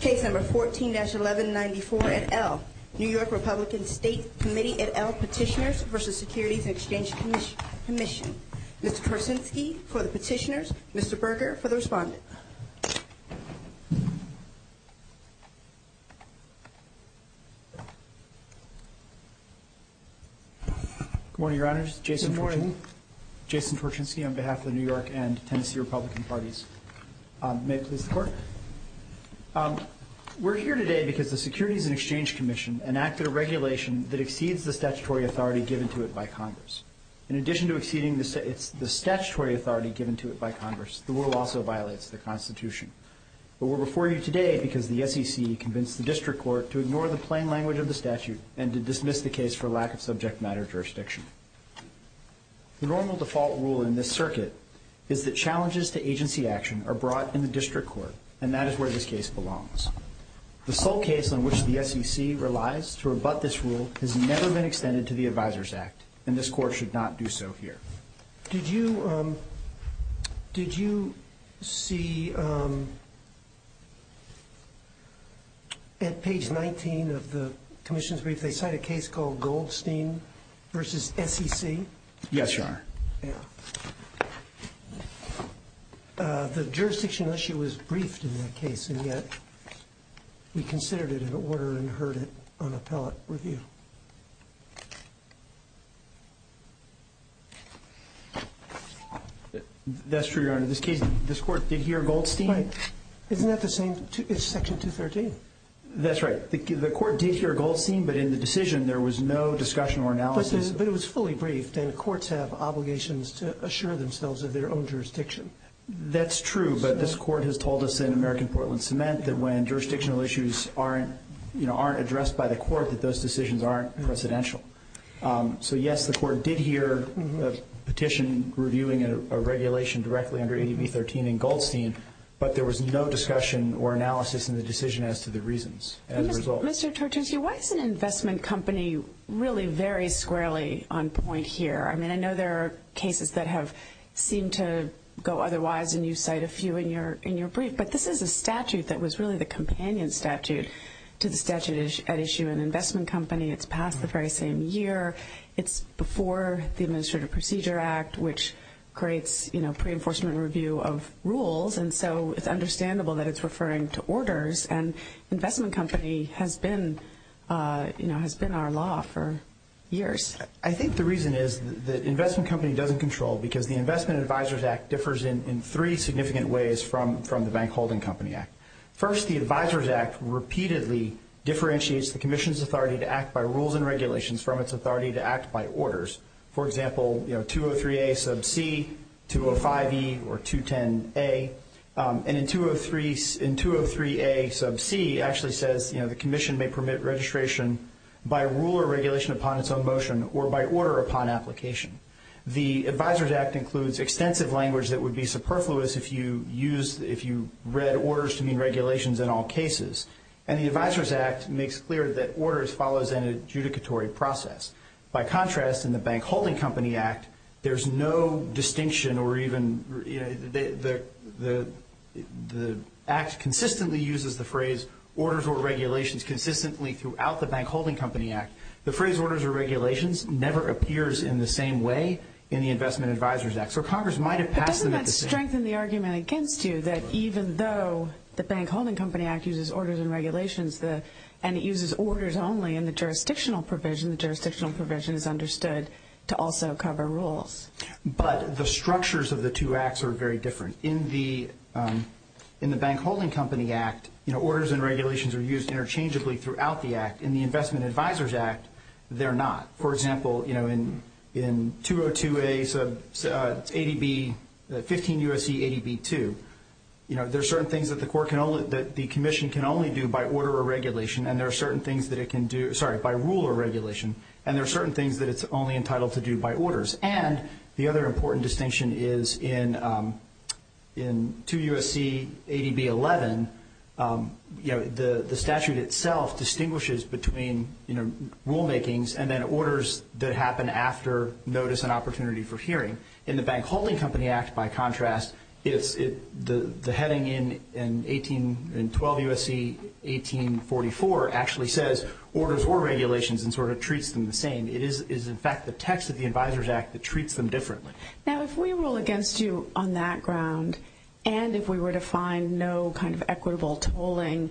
Case No. 14-1194, et al., New York Republican State Committee, et al., Petitioners v. Securities and Exchange Commission. Mr. Turchinsky for the petitioners, Mr. Berger for the respondent. Good morning, Your Honors. Jason Turchinsky on behalf of the New York and Tennessee Republican parties. May it please the Court. We're here today because the Securities and Exchange Commission enacted a regulation that exceeds the statutory authority given to it by Congress. In addition to exceeding the statutory authority given to it by Congress, the rule also violates the Constitution. But we're before you today because the SEC convinced the District Court to ignore the plain language of the statute and to dismiss the case for lack of subject matter jurisdiction. The normal default rule in this circuit is that challenges to agency action are brought in the District Court, and that is where this case belongs. The sole case on which the SEC relies to rebut this rule has never been extended to the Advisors Act, and this Court should not do so here. Did you see at page 19 of the Commission's brief, they cite a case called Goldstein v. SEC? Yes, Your Honor. The jurisdiction issue was briefed in that case, and yet we considered it in order and heard it on appellate review. That's true, Your Honor. This case, this Court did hear Goldstein. Right. Isn't that the same? It's Section 213. That's right. The Court did hear Goldstein, but in the decision there was no discussion or analysis. But it was fully briefed, and courts have obligations to assure themselves of their own jurisdiction. That's true, but this Court has told us in American Portland Cement that when jurisdictional issues aren't addressed by the Court, that those decisions aren't precedential. So, yes, the Court did hear a petition reviewing a regulation directly under AB 13 in Goldstein, but there was no discussion or analysis in the decision as to the reasons as a result. Mr. Tortorsia, why is an investment company really very squarely on point here? I mean, I know there are cases that have seemed to go otherwise, and you cite a few in your brief, but this is a statute that was really the companion statute to the statute at issue. An investment company, it's passed the very same year. It's before the Administrative Procedure Act, which creates pre-enforcement review of rules, and so it's understandable that it's referring to orders, and investment company has been our law for years. I think the reason is that investment company doesn't control because the Investment Advisors Act differs in three significant ways from the Bank Holding Company Act. First, the Advisors Act repeatedly differentiates the Commission's authority to act by rules and regulations from its authority to act by orders. For example, 203a sub c, 205e, or 210a, and in 203a sub c, it actually says, you know, the Commission may permit registration by rule or regulation upon its own motion or by order upon application. The Advisors Act includes extensive language that would be superfluous if you read orders to mean regulations in all cases, and the Advisors Act makes clear that orders follows an adjudicatory process. By contrast, in the Bank Holding Company Act, there's no distinction or even, you know, the Act consistently uses the phrase orders or regulations consistently throughout the Bank Holding Company Act. The phrase orders or regulations never appears in the same way in the Investment Advisors Act. So Congress might have passed them at the same time. But doesn't that strengthen the argument against you that even though the Bank Holding Company Act uses orders and regulations, and it uses orders only in the jurisdictional provision, the jurisdictional provision is understood to also cover rules? But the structures of the two acts are very different. In the Bank Holding Company Act, you know, orders and regulations are used interchangeably throughout the Act. In the Investment Advisors Act, they're not. For example, you know, in 202A ADB 15 U.S.C. ADB 2, you know, there are certain things that the Commission can only do by order or regulation, and there are certain things that it can do by rule or regulation, and there are certain things that it's only entitled to do by orders. And the other important distinction is in 2 U.S.C. ADB 11, you know, the statute itself distinguishes between, you know, rulemakings and then orders that happen after notice and opportunity for hearing. In the Bank Holding Company Act, by contrast, the heading in 12 U.S.C. 1844 actually says orders or regulations and sort of treats them the same. It is, in fact, the text of the Advisors Act that treats them differently. Now, if we rule against you on that ground, and if we were to find no kind of equitable tolling,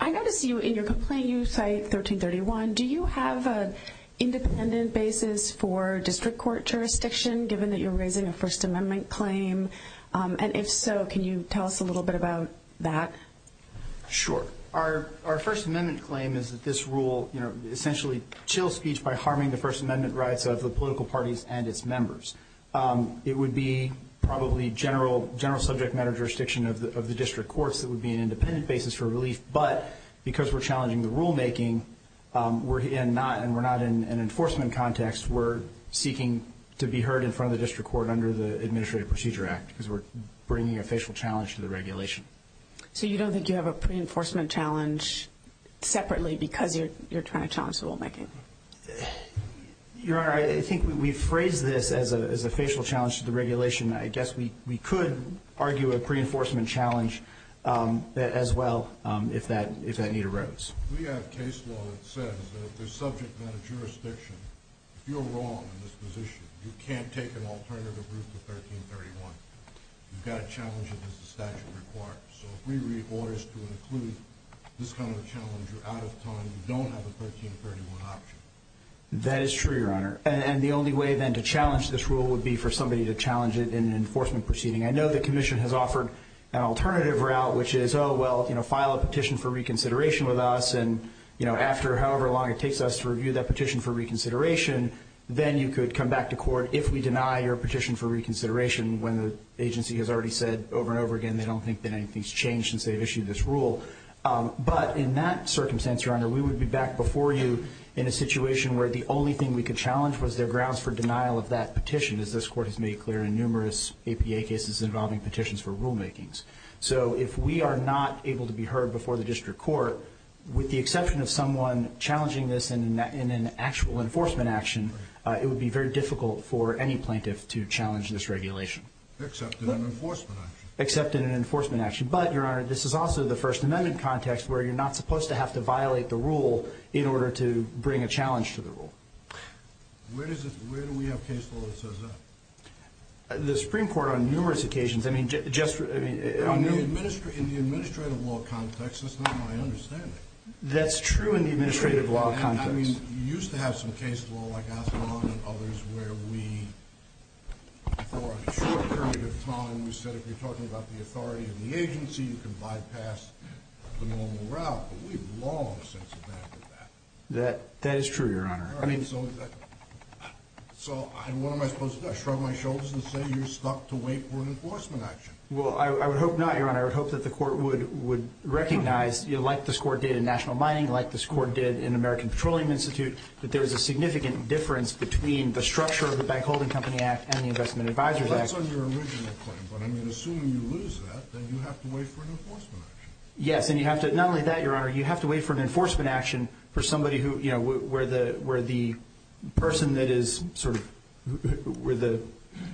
I notice you in your complaint, you cite 1331. Do you have an independent basis for district court jurisdiction, given that you're raising a First Amendment claim? And if so, can you tell us a little bit about that? Sure. Our First Amendment claim is that this rule, you know, essentially chills speech by harming the First Amendment rights of the political parties and its members. It would be probably general subject matter jurisdiction of the district courts that would be an independent basis for relief. But because we're challenging the rulemaking and we're not in an enforcement context, we're seeking to be heard in front of the district court under the Administrative Procedure Act because we're bringing a facial challenge to the regulation. So you don't think you have a pre-enforcement challenge separately because you're trying to challenge the rulemaking? Your Honor, I think we've phrased this as a facial challenge to the regulation. I guess we could argue a pre-enforcement challenge as well if that need arose. We have case law that says that if there's subject matter jurisdiction, if you're wrong in this position, you can't take an alternative route to 1331. You've got to challenge it as the statute requires. So if we read orders to include this kind of a challenge, you're out of time. You don't have a 1331 option. That is true, Your Honor. And the only way then to challenge this rule would be for somebody to challenge it in an enforcement proceeding. I know the Commission has offered an alternative route, which is, oh, well, you know, file a petition for reconsideration with us, and, you know, after however long it takes us to review that petition for reconsideration, then you could come back to court if we deny your petition for reconsideration when the agency has already said over and over again they don't think that anything's changed since they've issued this rule. But in that circumstance, Your Honor, we would be back before you in a situation where the only thing we could challenge was their grounds for denial of that petition, as this Court has made clear in numerous APA cases involving petitions for rulemakings. So if we are not able to be heard before the district court, with the exception of someone challenging this in an actual enforcement action, it would be very difficult for any plaintiff to challenge this regulation. Except in an enforcement action. Except in an enforcement action. But, Your Honor, this is also the First Amendment context, where you're not supposed to have to violate the rule in order to bring a challenge to the rule. Where do we have case law that says that? The Supreme Court on numerous occasions. In the administrative law context, that's not my understanding. That's true in the administrative law context. You used to have some case law like Asimov and others where we, for a short period of time, we said if you're talking about the authority of the agency, you can bypass the normal route. But we've long since abandoned that. That is true, Your Honor. So what am I supposed to do? Shrug my shoulders and say you're stuck to wait for an enforcement action? Well, I would hope not, Your Honor. I would hope that the court would recognize, like this court did in national mining, like this court did in American Petroleum Institute, that there is a significant difference between the structure of the Bank Holding Company Act and the Investment Advisors Act. That's on your original claim. But I mean, assuming you lose that, then you have to wait for an enforcement action. Yes, and you have to, not only that, Your Honor, you have to wait for an enforcement action for somebody who, you know, where the person that is sort of where the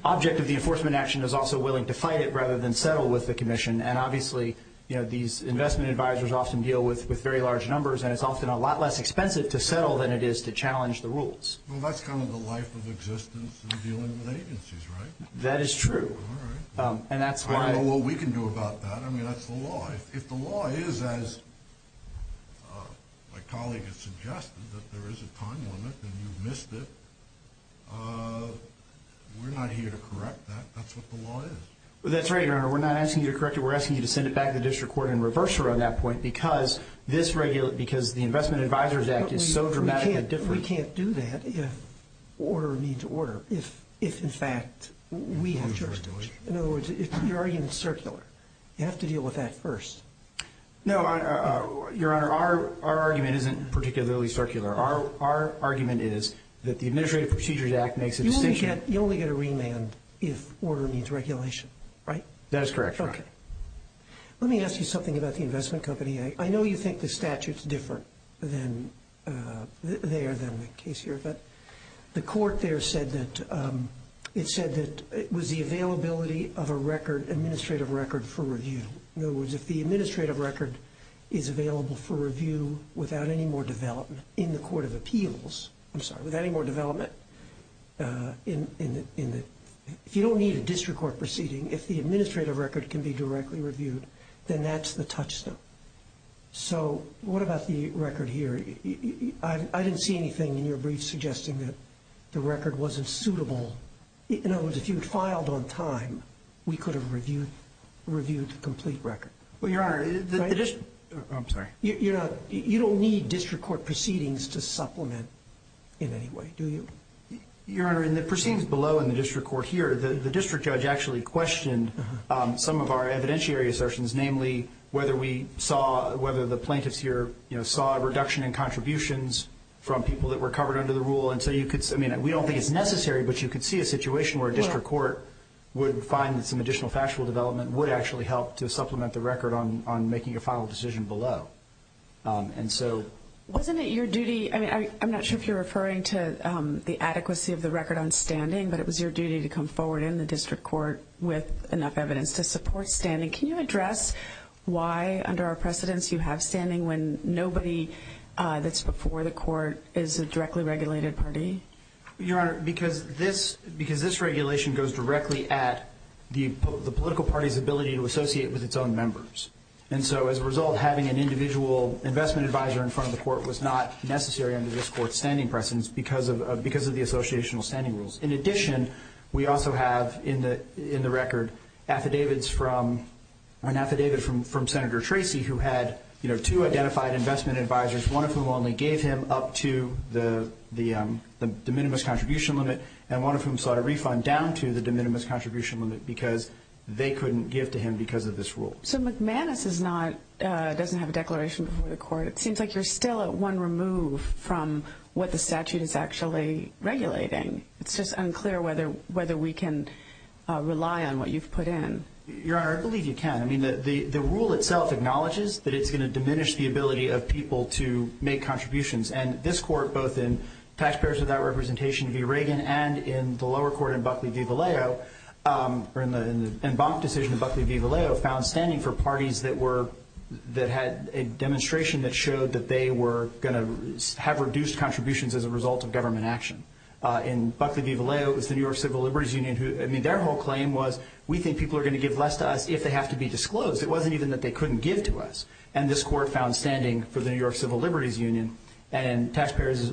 object of the enforcement action is also willing to fight it rather than settle with the commission. And obviously, you know, these investment advisors often deal with very large numbers, and it's often a lot less expensive to settle than it is to challenge the rules. Well, that's kind of the life of existence in dealing with agencies, right? That is true. All right. I don't know what we can do about that. I mean, that's the law. If the law is, as my colleague has suggested, that there is a time limit and you've missed it, we're not here to correct that. That's what the law is. That's right, Your Honor. We're not asking you to correct it. We're asking you to send it back to the district court and reverse her on that point because the Investment Advisors Act is so dramatically different. But we can't do that if order meets order, if, in fact, we have jurisdiction. In other words, your argument is circular. You have to deal with that first. No, Your Honor, our argument isn't particularly circular. Our argument is that the Administrative Procedures Act makes a distinction. You only get a remand if order meets regulation, right? That is correct, Your Honor. Okay. Let me ask you something about the investment company. I know you think the statute is different there than the case here, but the court there said that it was the availability of a record, administrative record, for review. In other words, if the administrative record is available for review without any more development in the Court of Appeals, I'm sorry, without any more development, if you don't need a district court proceeding, if the administrative record can be directly reviewed, then that's the touchstone. So what about the record here? I didn't see anything in your brief suggesting that the record wasn't suitable. In other words, if you had filed on time, we could have reviewed the complete record. Well, Your Honor, the district – I'm sorry. You don't need district court proceedings to supplement in any way, do you? Your Honor, in the proceedings below in the district court here, the district judge actually questioned some of our evidentiary assertions, namely whether we saw – whether the plaintiffs here saw a reduction in contributions from people that were covered under the rule. And so you could – I mean, we don't think it's necessary, but you could see a situation where a district court would find that some additional factual development would actually help to supplement the record on making a final decision below. And so – Wasn't it your duty – I mean, I'm not sure if you're referring to the adequacy of the record on standing, but it was your duty to come forward in the district court with enough evidence to support standing. Can you address why under our precedents you have standing when nobody that's before the court is a directly regulated party? Your Honor, because this regulation goes directly at the political party's ability to associate with its own members. And so as a result, having an individual investment advisor in front of the court was not necessary under this court's standing precedents because of the associational standing rules. In addition, we also have in the record affidavits from – an affidavit from Senator Tracy who had two identified investment advisors, one of whom only gave him up to the de minimis contribution limit and one of whom sought a refund down to the de minimis contribution limit because they couldn't give to him because of this rule. So McManus is not – doesn't have a declaration before the court. It seems like you're still at one remove from what the statute is actually regulating. It's just unclear whether we can rely on what you've put in. Your Honor, I believe you can. I mean, the rule itself acknowledges that it's going to diminish the ability of people to make contributions. And this court, both in Taxpayers Without Representation v. Reagan and in the lower court in Buckley v. Vallejo, or in the Embank decision in Buckley v. Vallejo, found standing for parties that were – that had a demonstration that showed that they were going to have reduced contributions as a result of government action. In Buckley v. Vallejo, it was the New York Civil Liberties Union who – I mean, their whole claim was we think people are going to give less to us if they have to be disclosed. It wasn't even that they couldn't give to us. And this court found standing for the New York Civil Liberties Union. And Taxpayers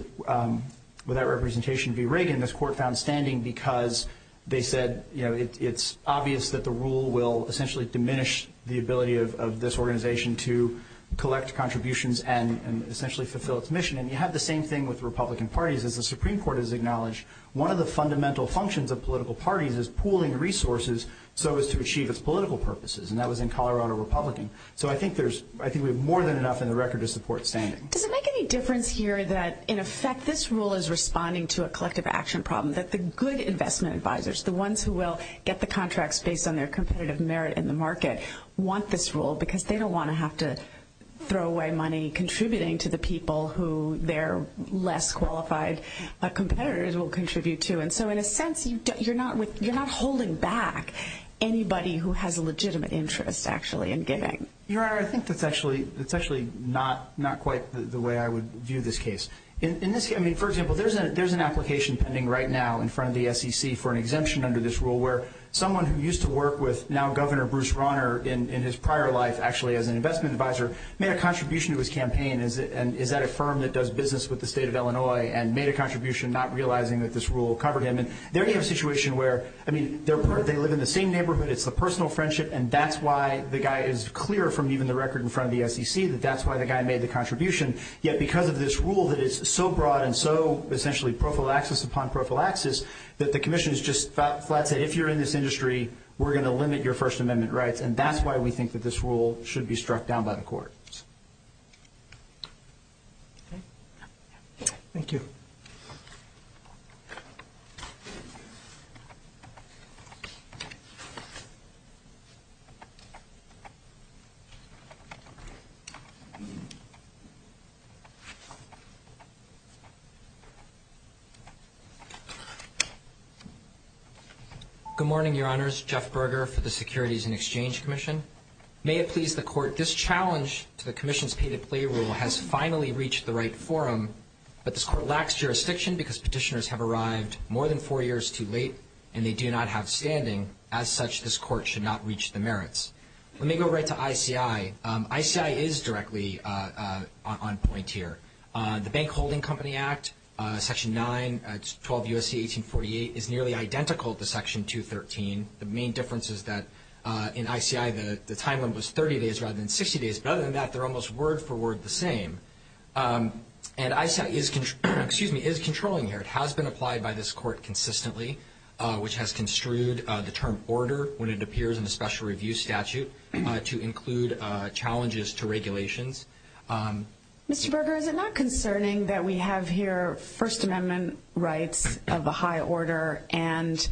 Without Representation v. Reagan, this court found standing because they said, you know, it's obvious that the rule will essentially diminish the ability of this organization to collect contributions and essentially fulfill its mission. And you have the same thing with Republican parties. As the Supreme Court has acknowledged, one of the fundamental functions of political parties is pooling resources so as to achieve its political purposes. And that was in Colorado Republican. So I think there's – I think we have more than enough in the record to support standing. Does it make any difference here that, in effect, this rule is responding to a collective action problem, that the good investment advisors, the ones who will get the contracts based on their competitive merit in the market, want this rule because they don't want to have to throw away money contributing to the people who their less qualified competitors will contribute to? And so, in a sense, you're not holding back anybody who has a legitimate interest, actually, in giving. Your Honor, I think that's actually not quite the way I would view this case. I mean, for example, there's an application pending right now in front of the SEC for an exemption under this rule where someone who used to work with now Governor Bruce Rauner in his prior life, actually as an investment advisor, made a contribution to his campaign. And is that a firm that does business with the state of Illinois and made a contribution not realizing that this rule covered him? And there you have a situation where, I mean, they live in the same neighborhood. It's the personal friendship, and that's why the guy is clear from even the record in front of the SEC that that's why the guy made the contribution. Yet because of this rule that is so broad and so essentially prophylaxis upon prophylaxis, that the commission has just flat-set, if you're in this industry, we're going to limit your First Amendment rights. And that's why we think that this rule should be struck down by the court. Thank you. Good morning, Your Honors. Jeff Berger for the Securities and Exchange Commission. May it please the court, this challenge to the commission's pay-to-play rule has finally reached the right forum, but this court lacks jurisdiction because petitioners have arrived more than four years too late, and they do not have standing. As such, this court should not reach the merits. Let me go right to ICI. ICI is directly on point here. The Bank Holding Company Act, Section 9, 12 U.S.C. 1848, is nearly identical to Section 213. The main difference is that in ICI, the timeline was 30 days rather than 60 days. But other than that, they're almost word for word the same. And ICI is controlling here. It has been applied by this court consistently, which has construed the term order when it appears in the special review statute to include challenges to regulations. Mr. Berger, is it not concerning that we have here First Amendment rights of a high order and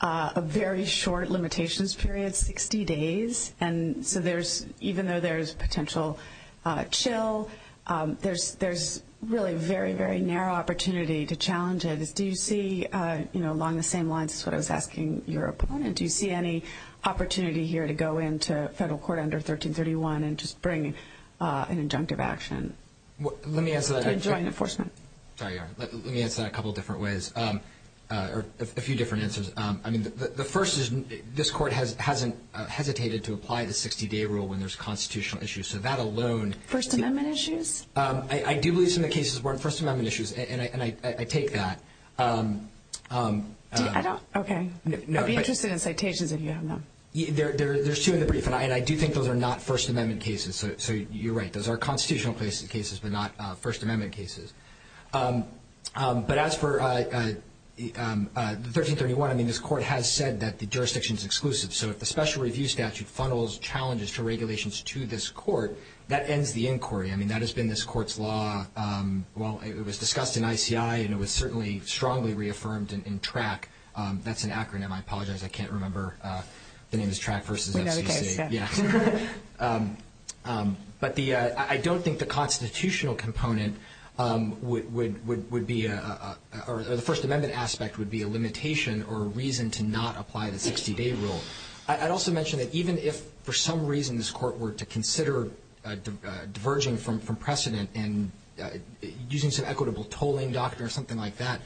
a very short limitations period, 60 days? And so there's, even though there's potential chill, there's really very, very narrow opportunity to challenge it. Do you see, you know, along the same lines as what I was asking your opponent, do you see any opportunity here to go into federal court under 1331 and just bring an injunctive action? Let me answer that. And join enforcement. Sorry, let me answer that a couple different ways. Or a few different answers. I mean, the first is this court hasn't hesitated to apply the 60-day rule when there's constitutional issues. So that alone. First Amendment issues? I do believe some of the cases weren't First Amendment issues. And I take that. I don't. Okay. I'd be interested in citations if you have them. There's two in the brief. And I do think those are not First Amendment cases. So you're right. Those are constitutional cases, but not First Amendment cases. But as for 1331, I mean, this court has said that the jurisdiction is exclusive. So if the special review statute funnels challenges to regulations to this court, that ends the inquiry. I mean, that has been this court's law. Well, it was discussed in ICI, and it was certainly strongly reaffirmed in TRAC. That's an acronym. I apologize. I can't remember. The name is TRAC versus FCC. We know the case. Yeah. But I don't think the constitutional component would be or the First Amendment aspect would be a limitation or a reason to not apply the 60-day rule. I'd also mention that even if for some reason this court were to consider diverging from precedent and using some equitable tolling doctrine or something like that,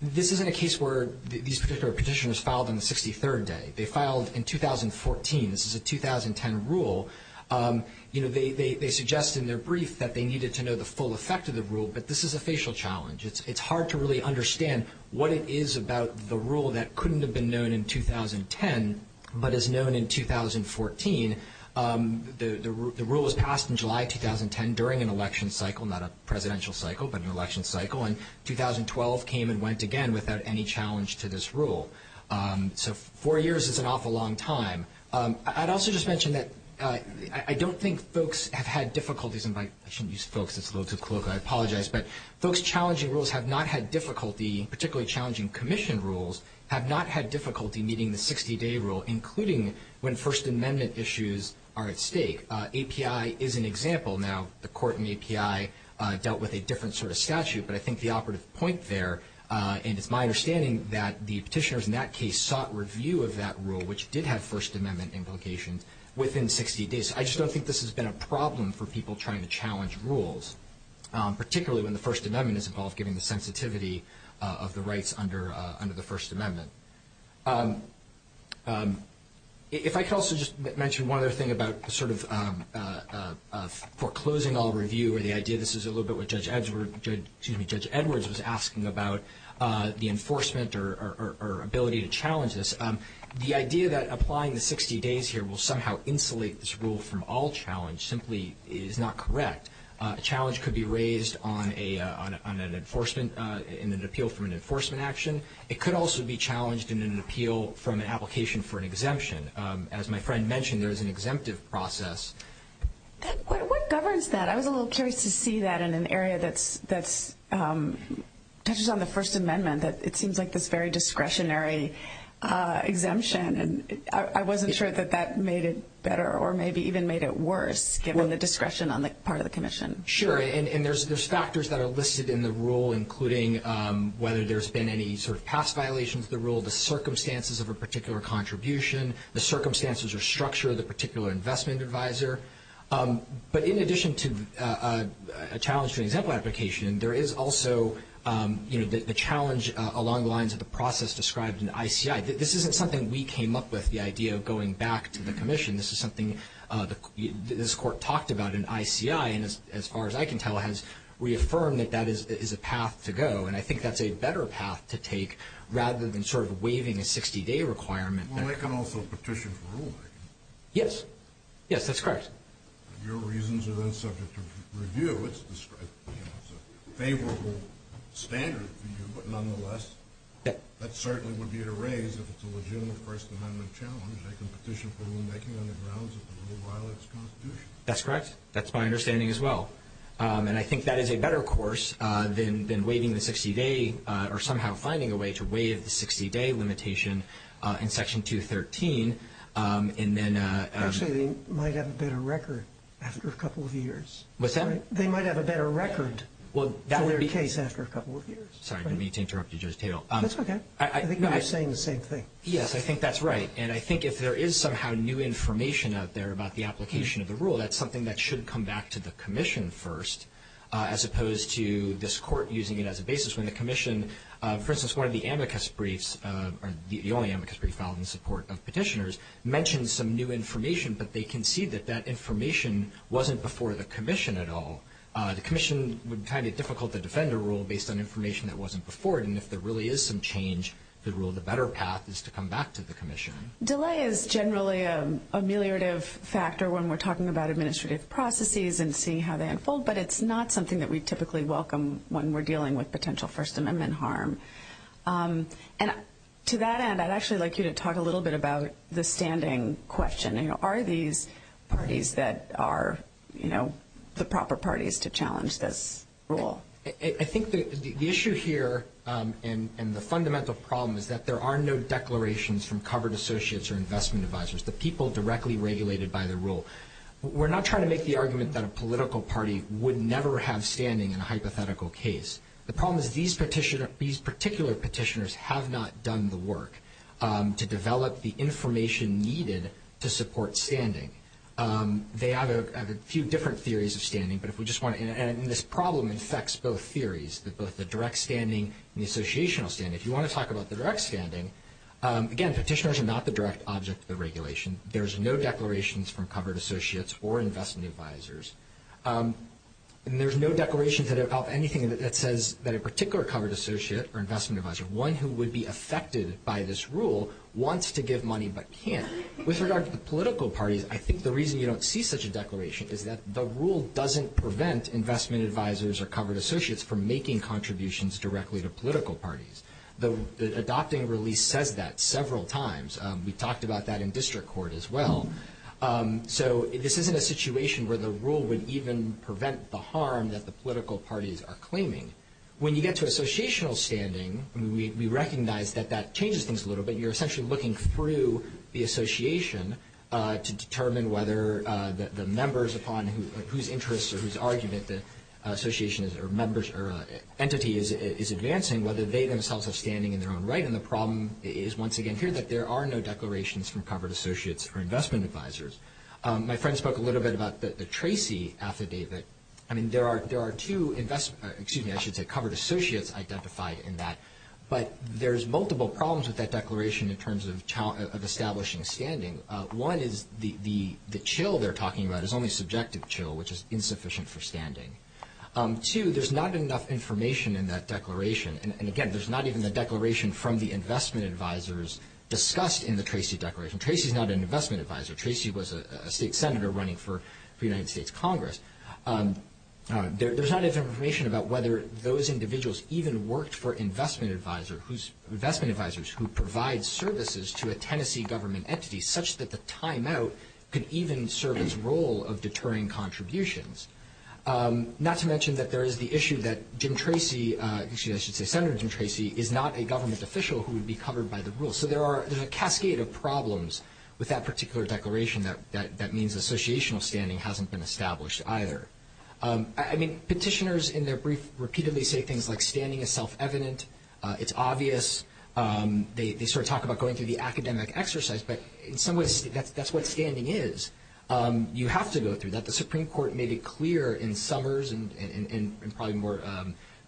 this isn't a case where these particular petitioners filed on the 63rd day. They filed in 2014. This is a 2010 rule. You know, they suggest in their brief that they needed to know the full effect of the rule, but this is a facial challenge. It's hard to really understand what it is about the rule that couldn't have been known in 2010 but is known in 2014. The rule was passed in July 2010 during an election cycle, not a presidential cycle, but an election cycle, and 2012 came and went again without any challenge to this rule. So four years is an awful long time. I'd also just mention that I don't think folks have had difficulties, and I shouldn't use folks. It's a little too colloquial. I apologize. But folks challenging rules have not had difficulty, particularly challenging commission rules, have not had difficulty meeting the 60-day rule, including when First Amendment issues are at stake. API is an example. Now, the court in API dealt with a different sort of statute, but I think the operative point there, and it's my understanding that the petitioners in that case sought review of that rule, which did have First Amendment implications, within 60 days. I just don't think this has been a problem for people trying to challenge rules, particularly when the First Amendment is involved, given the sensitivity of the rights under the First Amendment. If I could also just mention one other thing about sort of foreclosing on review or the idea this is a little bit what Judge Edwards was asking about, the enforcement or ability to challenge this. The idea that applying the 60 days here will somehow insulate this rule from all challenge simply is not correct. A challenge could be raised on an appeal from an enforcement action. It could also be challenged in an appeal from an application for an exemption. As my friend mentioned, there is an exemptive process. What governs that? I was a little curious to see that in an area that touches on the First Amendment, that it seems like this very discretionary exemption, and I wasn't sure that that made it better or maybe even made it worse, given the discretion on the part of the commission. Sure, and there's factors that are listed in the rule, including whether there's been any sort of past violations of the rule, the circumstances of a particular contribution, the circumstances or structure of the particular investment advisor. But in addition to a challenge to an example application, there is also the challenge along the lines of the process described in the ICI. This isn't something we came up with, the idea of going back to the commission. This is something this Court talked about in ICI and, as far as I can tell, has reaffirmed that that is a path to go, and I think that's a better path to take rather than sort of waiving a 60-day requirement. Well, they can also petition for ruling. Yes. Yes, that's correct. Your reasons are then subject to review. It's a favorable standard for you, but nonetheless, that certainly would be at a raise if it's a legitimate First Amendment challenge. They can petition for rulemaking on the grounds that the rule violates the Constitution. That's correct. That's my understanding as well, and I think that is a better course than waiving the 60-day or somehow finding a way to waive the 60-day limitation in Section 213. Actually, they might have a better record after a couple of years. What's that? They might have a better record for their case after a couple of years. Sorry, I didn't mean to interrupt you, Judge Taylor. That's okay. I think we were saying the same thing. Yes, I think that's right, and I think if there is somehow new information out there about the application of the rule, that's something that should come back to the commission first as opposed to this Court using it as a basis when the commission, for instance, one of the amicus briefs, or the only amicus brief filed in support of petitioners, mentions some new information, but they concede that that information wasn't before the commission at all. The commission would find it difficult to defend a rule based on information that wasn't before it, and if there really is some change to the rule, the better path is to come back to the commission. Delay is generally an ameliorative factor when we're talking about administrative processes and seeing how they unfold, but it's not something that we typically welcome when we're dealing with potential First Amendment harm. And to that end, I'd actually like you to talk a little bit about the standing question. Are these parties that are the proper parties to challenge this rule? I think the issue here, and the fundamental problem, is that there are no declarations from covered associates or investment advisors, the people directly regulated by the rule. We're not trying to make the argument that a political party would never have standing in a hypothetical case. The problem is these particular petitioners have not done the work to develop the information needed to support standing. They have a few different theories of standing, and this problem affects both theories, both the direct standing and the associational standing. If you want to talk about the direct standing, again, petitioners are not the direct object of the regulation. There's no declarations from covered associates or investment advisors, and there's no declarations of anything that says that a particular covered associate or investment advisor, one who would be affected by this rule, wants to give money but can't. With regard to the political parties, I think the reason you don't see such a declaration is that the rule doesn't prevent investment advisors or covered associates from making contributions directly to political parties. The adopting release says that several times. We talked about that in district court as well. So this isn't a situation where the rule would even prevent the harm that the political parties are claiming. When you get to associational standing, we recognize that that changes things a little bit. You're essentially looking through the association to determine whether the members upon whose interest or whose argument the association or entity is advancing, whether they themselves are standing in their own right. And the problem is, once again, here, that there are no declarations from covered associates or investment advisors. My friend spoke a little bit about the Tracy affidavit. I mean, there are two covered associates identified in that, but there's multiple problems with that declaration in terms of establishing standing. One is the chill they're talking about is only subjective chill, which is insufficient for standing. Two, there's not enough information in that declaration. And, again, there's not even the declaration from the investment advisors discussed in the Tracy declaration. Tracy's not an investment advisor. Tracy was a state senator running for the United States Congress. There's not enough information about whether those individuals even worked for investment advisors who provide services to a Tennessee government entity, such that the timeout could even serve its role of deterring contributions. Not to mention that there is the issue that Jim Tracy, excuse me, I should say Senator Jim Tracy, is not a government official who would be covered by the rules. So there's a cascade of problems with that particular declaration that means associational standing hasn't been established either. I mean, petitioners in their brief repeatedly say things like standing is self-evident, it's obvious. They sort of talk about going through the academic exercise, but in some ways that's what standing is. You have to go through that. But the Supreme Court made it clear in Summers and probably more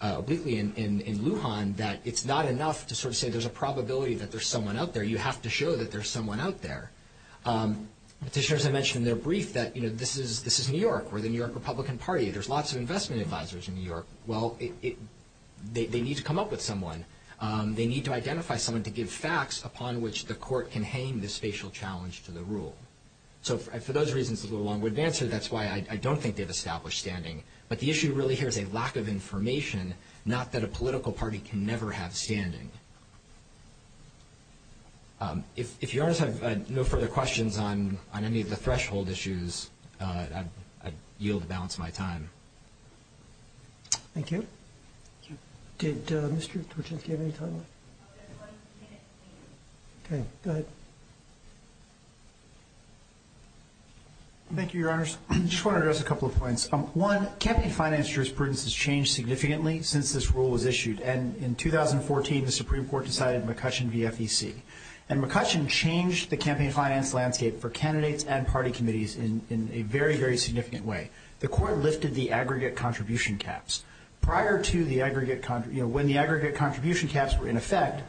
obliquely in Lujan that it's not enough to sort of say there's a probability that there's someone out there. You have to show that there's someone out there. Petitioners have mentioned in their brief that, you know, this is New York. We're the New York Republican Party. There's lots of investment advisors in New York. Well, they need to come up with someone. They need to identify someone to give facts upon which the court can hang the spatial challenge to the rule. So for those reasons, it's a long-winded answer. That's why I don't think they've established standing. But the issue really here is a lack of information, not that a political party can never have standing. If you guys have no further questions on any of the threshold issues, I'd yield the balance of my time. Thank you. Did Mr. Torczynski have any time left? Okay, go ahead. Thank you, Your Honors. I just want to address a couple of points. One, campaign finance jurisprudence has changed significantly since this rule was issued, and in 2014 the Supreme Court decided McCutcheon v. FEC. And McCutcheon changed the campaign finance landscape for candidates and party committees in a very, very significant way. The court lifted the aggregate contribution caps. When the aggregate contribution caps were in effect,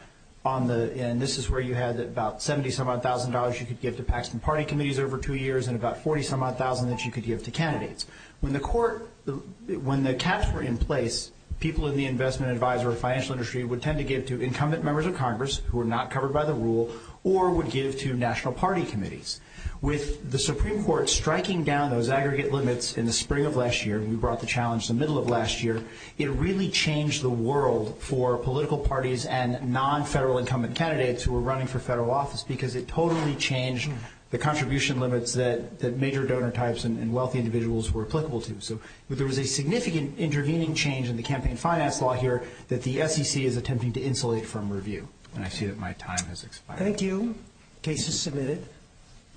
and this is where you had about $70,000-some-odd you could give to Paxton party committees over two years and about $40,000-some-odd that you could give to candidates. When the caps were in place, people in the investment advisory financial industry would tend to give to incumbent members of Congress who were not covered by the rule or would give to national party committees. With the Supreme Court striking down those aggregate limits in the spring of last year, and we brought the challenge in the middle of last year, it really changed the world for political parties and non-federal incumbent candidates who were running for federal office because it totally changed the contribution limits that major donor types and wealthy individuals were applicable to. So there was a significant intervening change in the campaign finance law here that the SEC is attempting to insulate from review. And I see that my time has expired. Thank you. Case is submitted.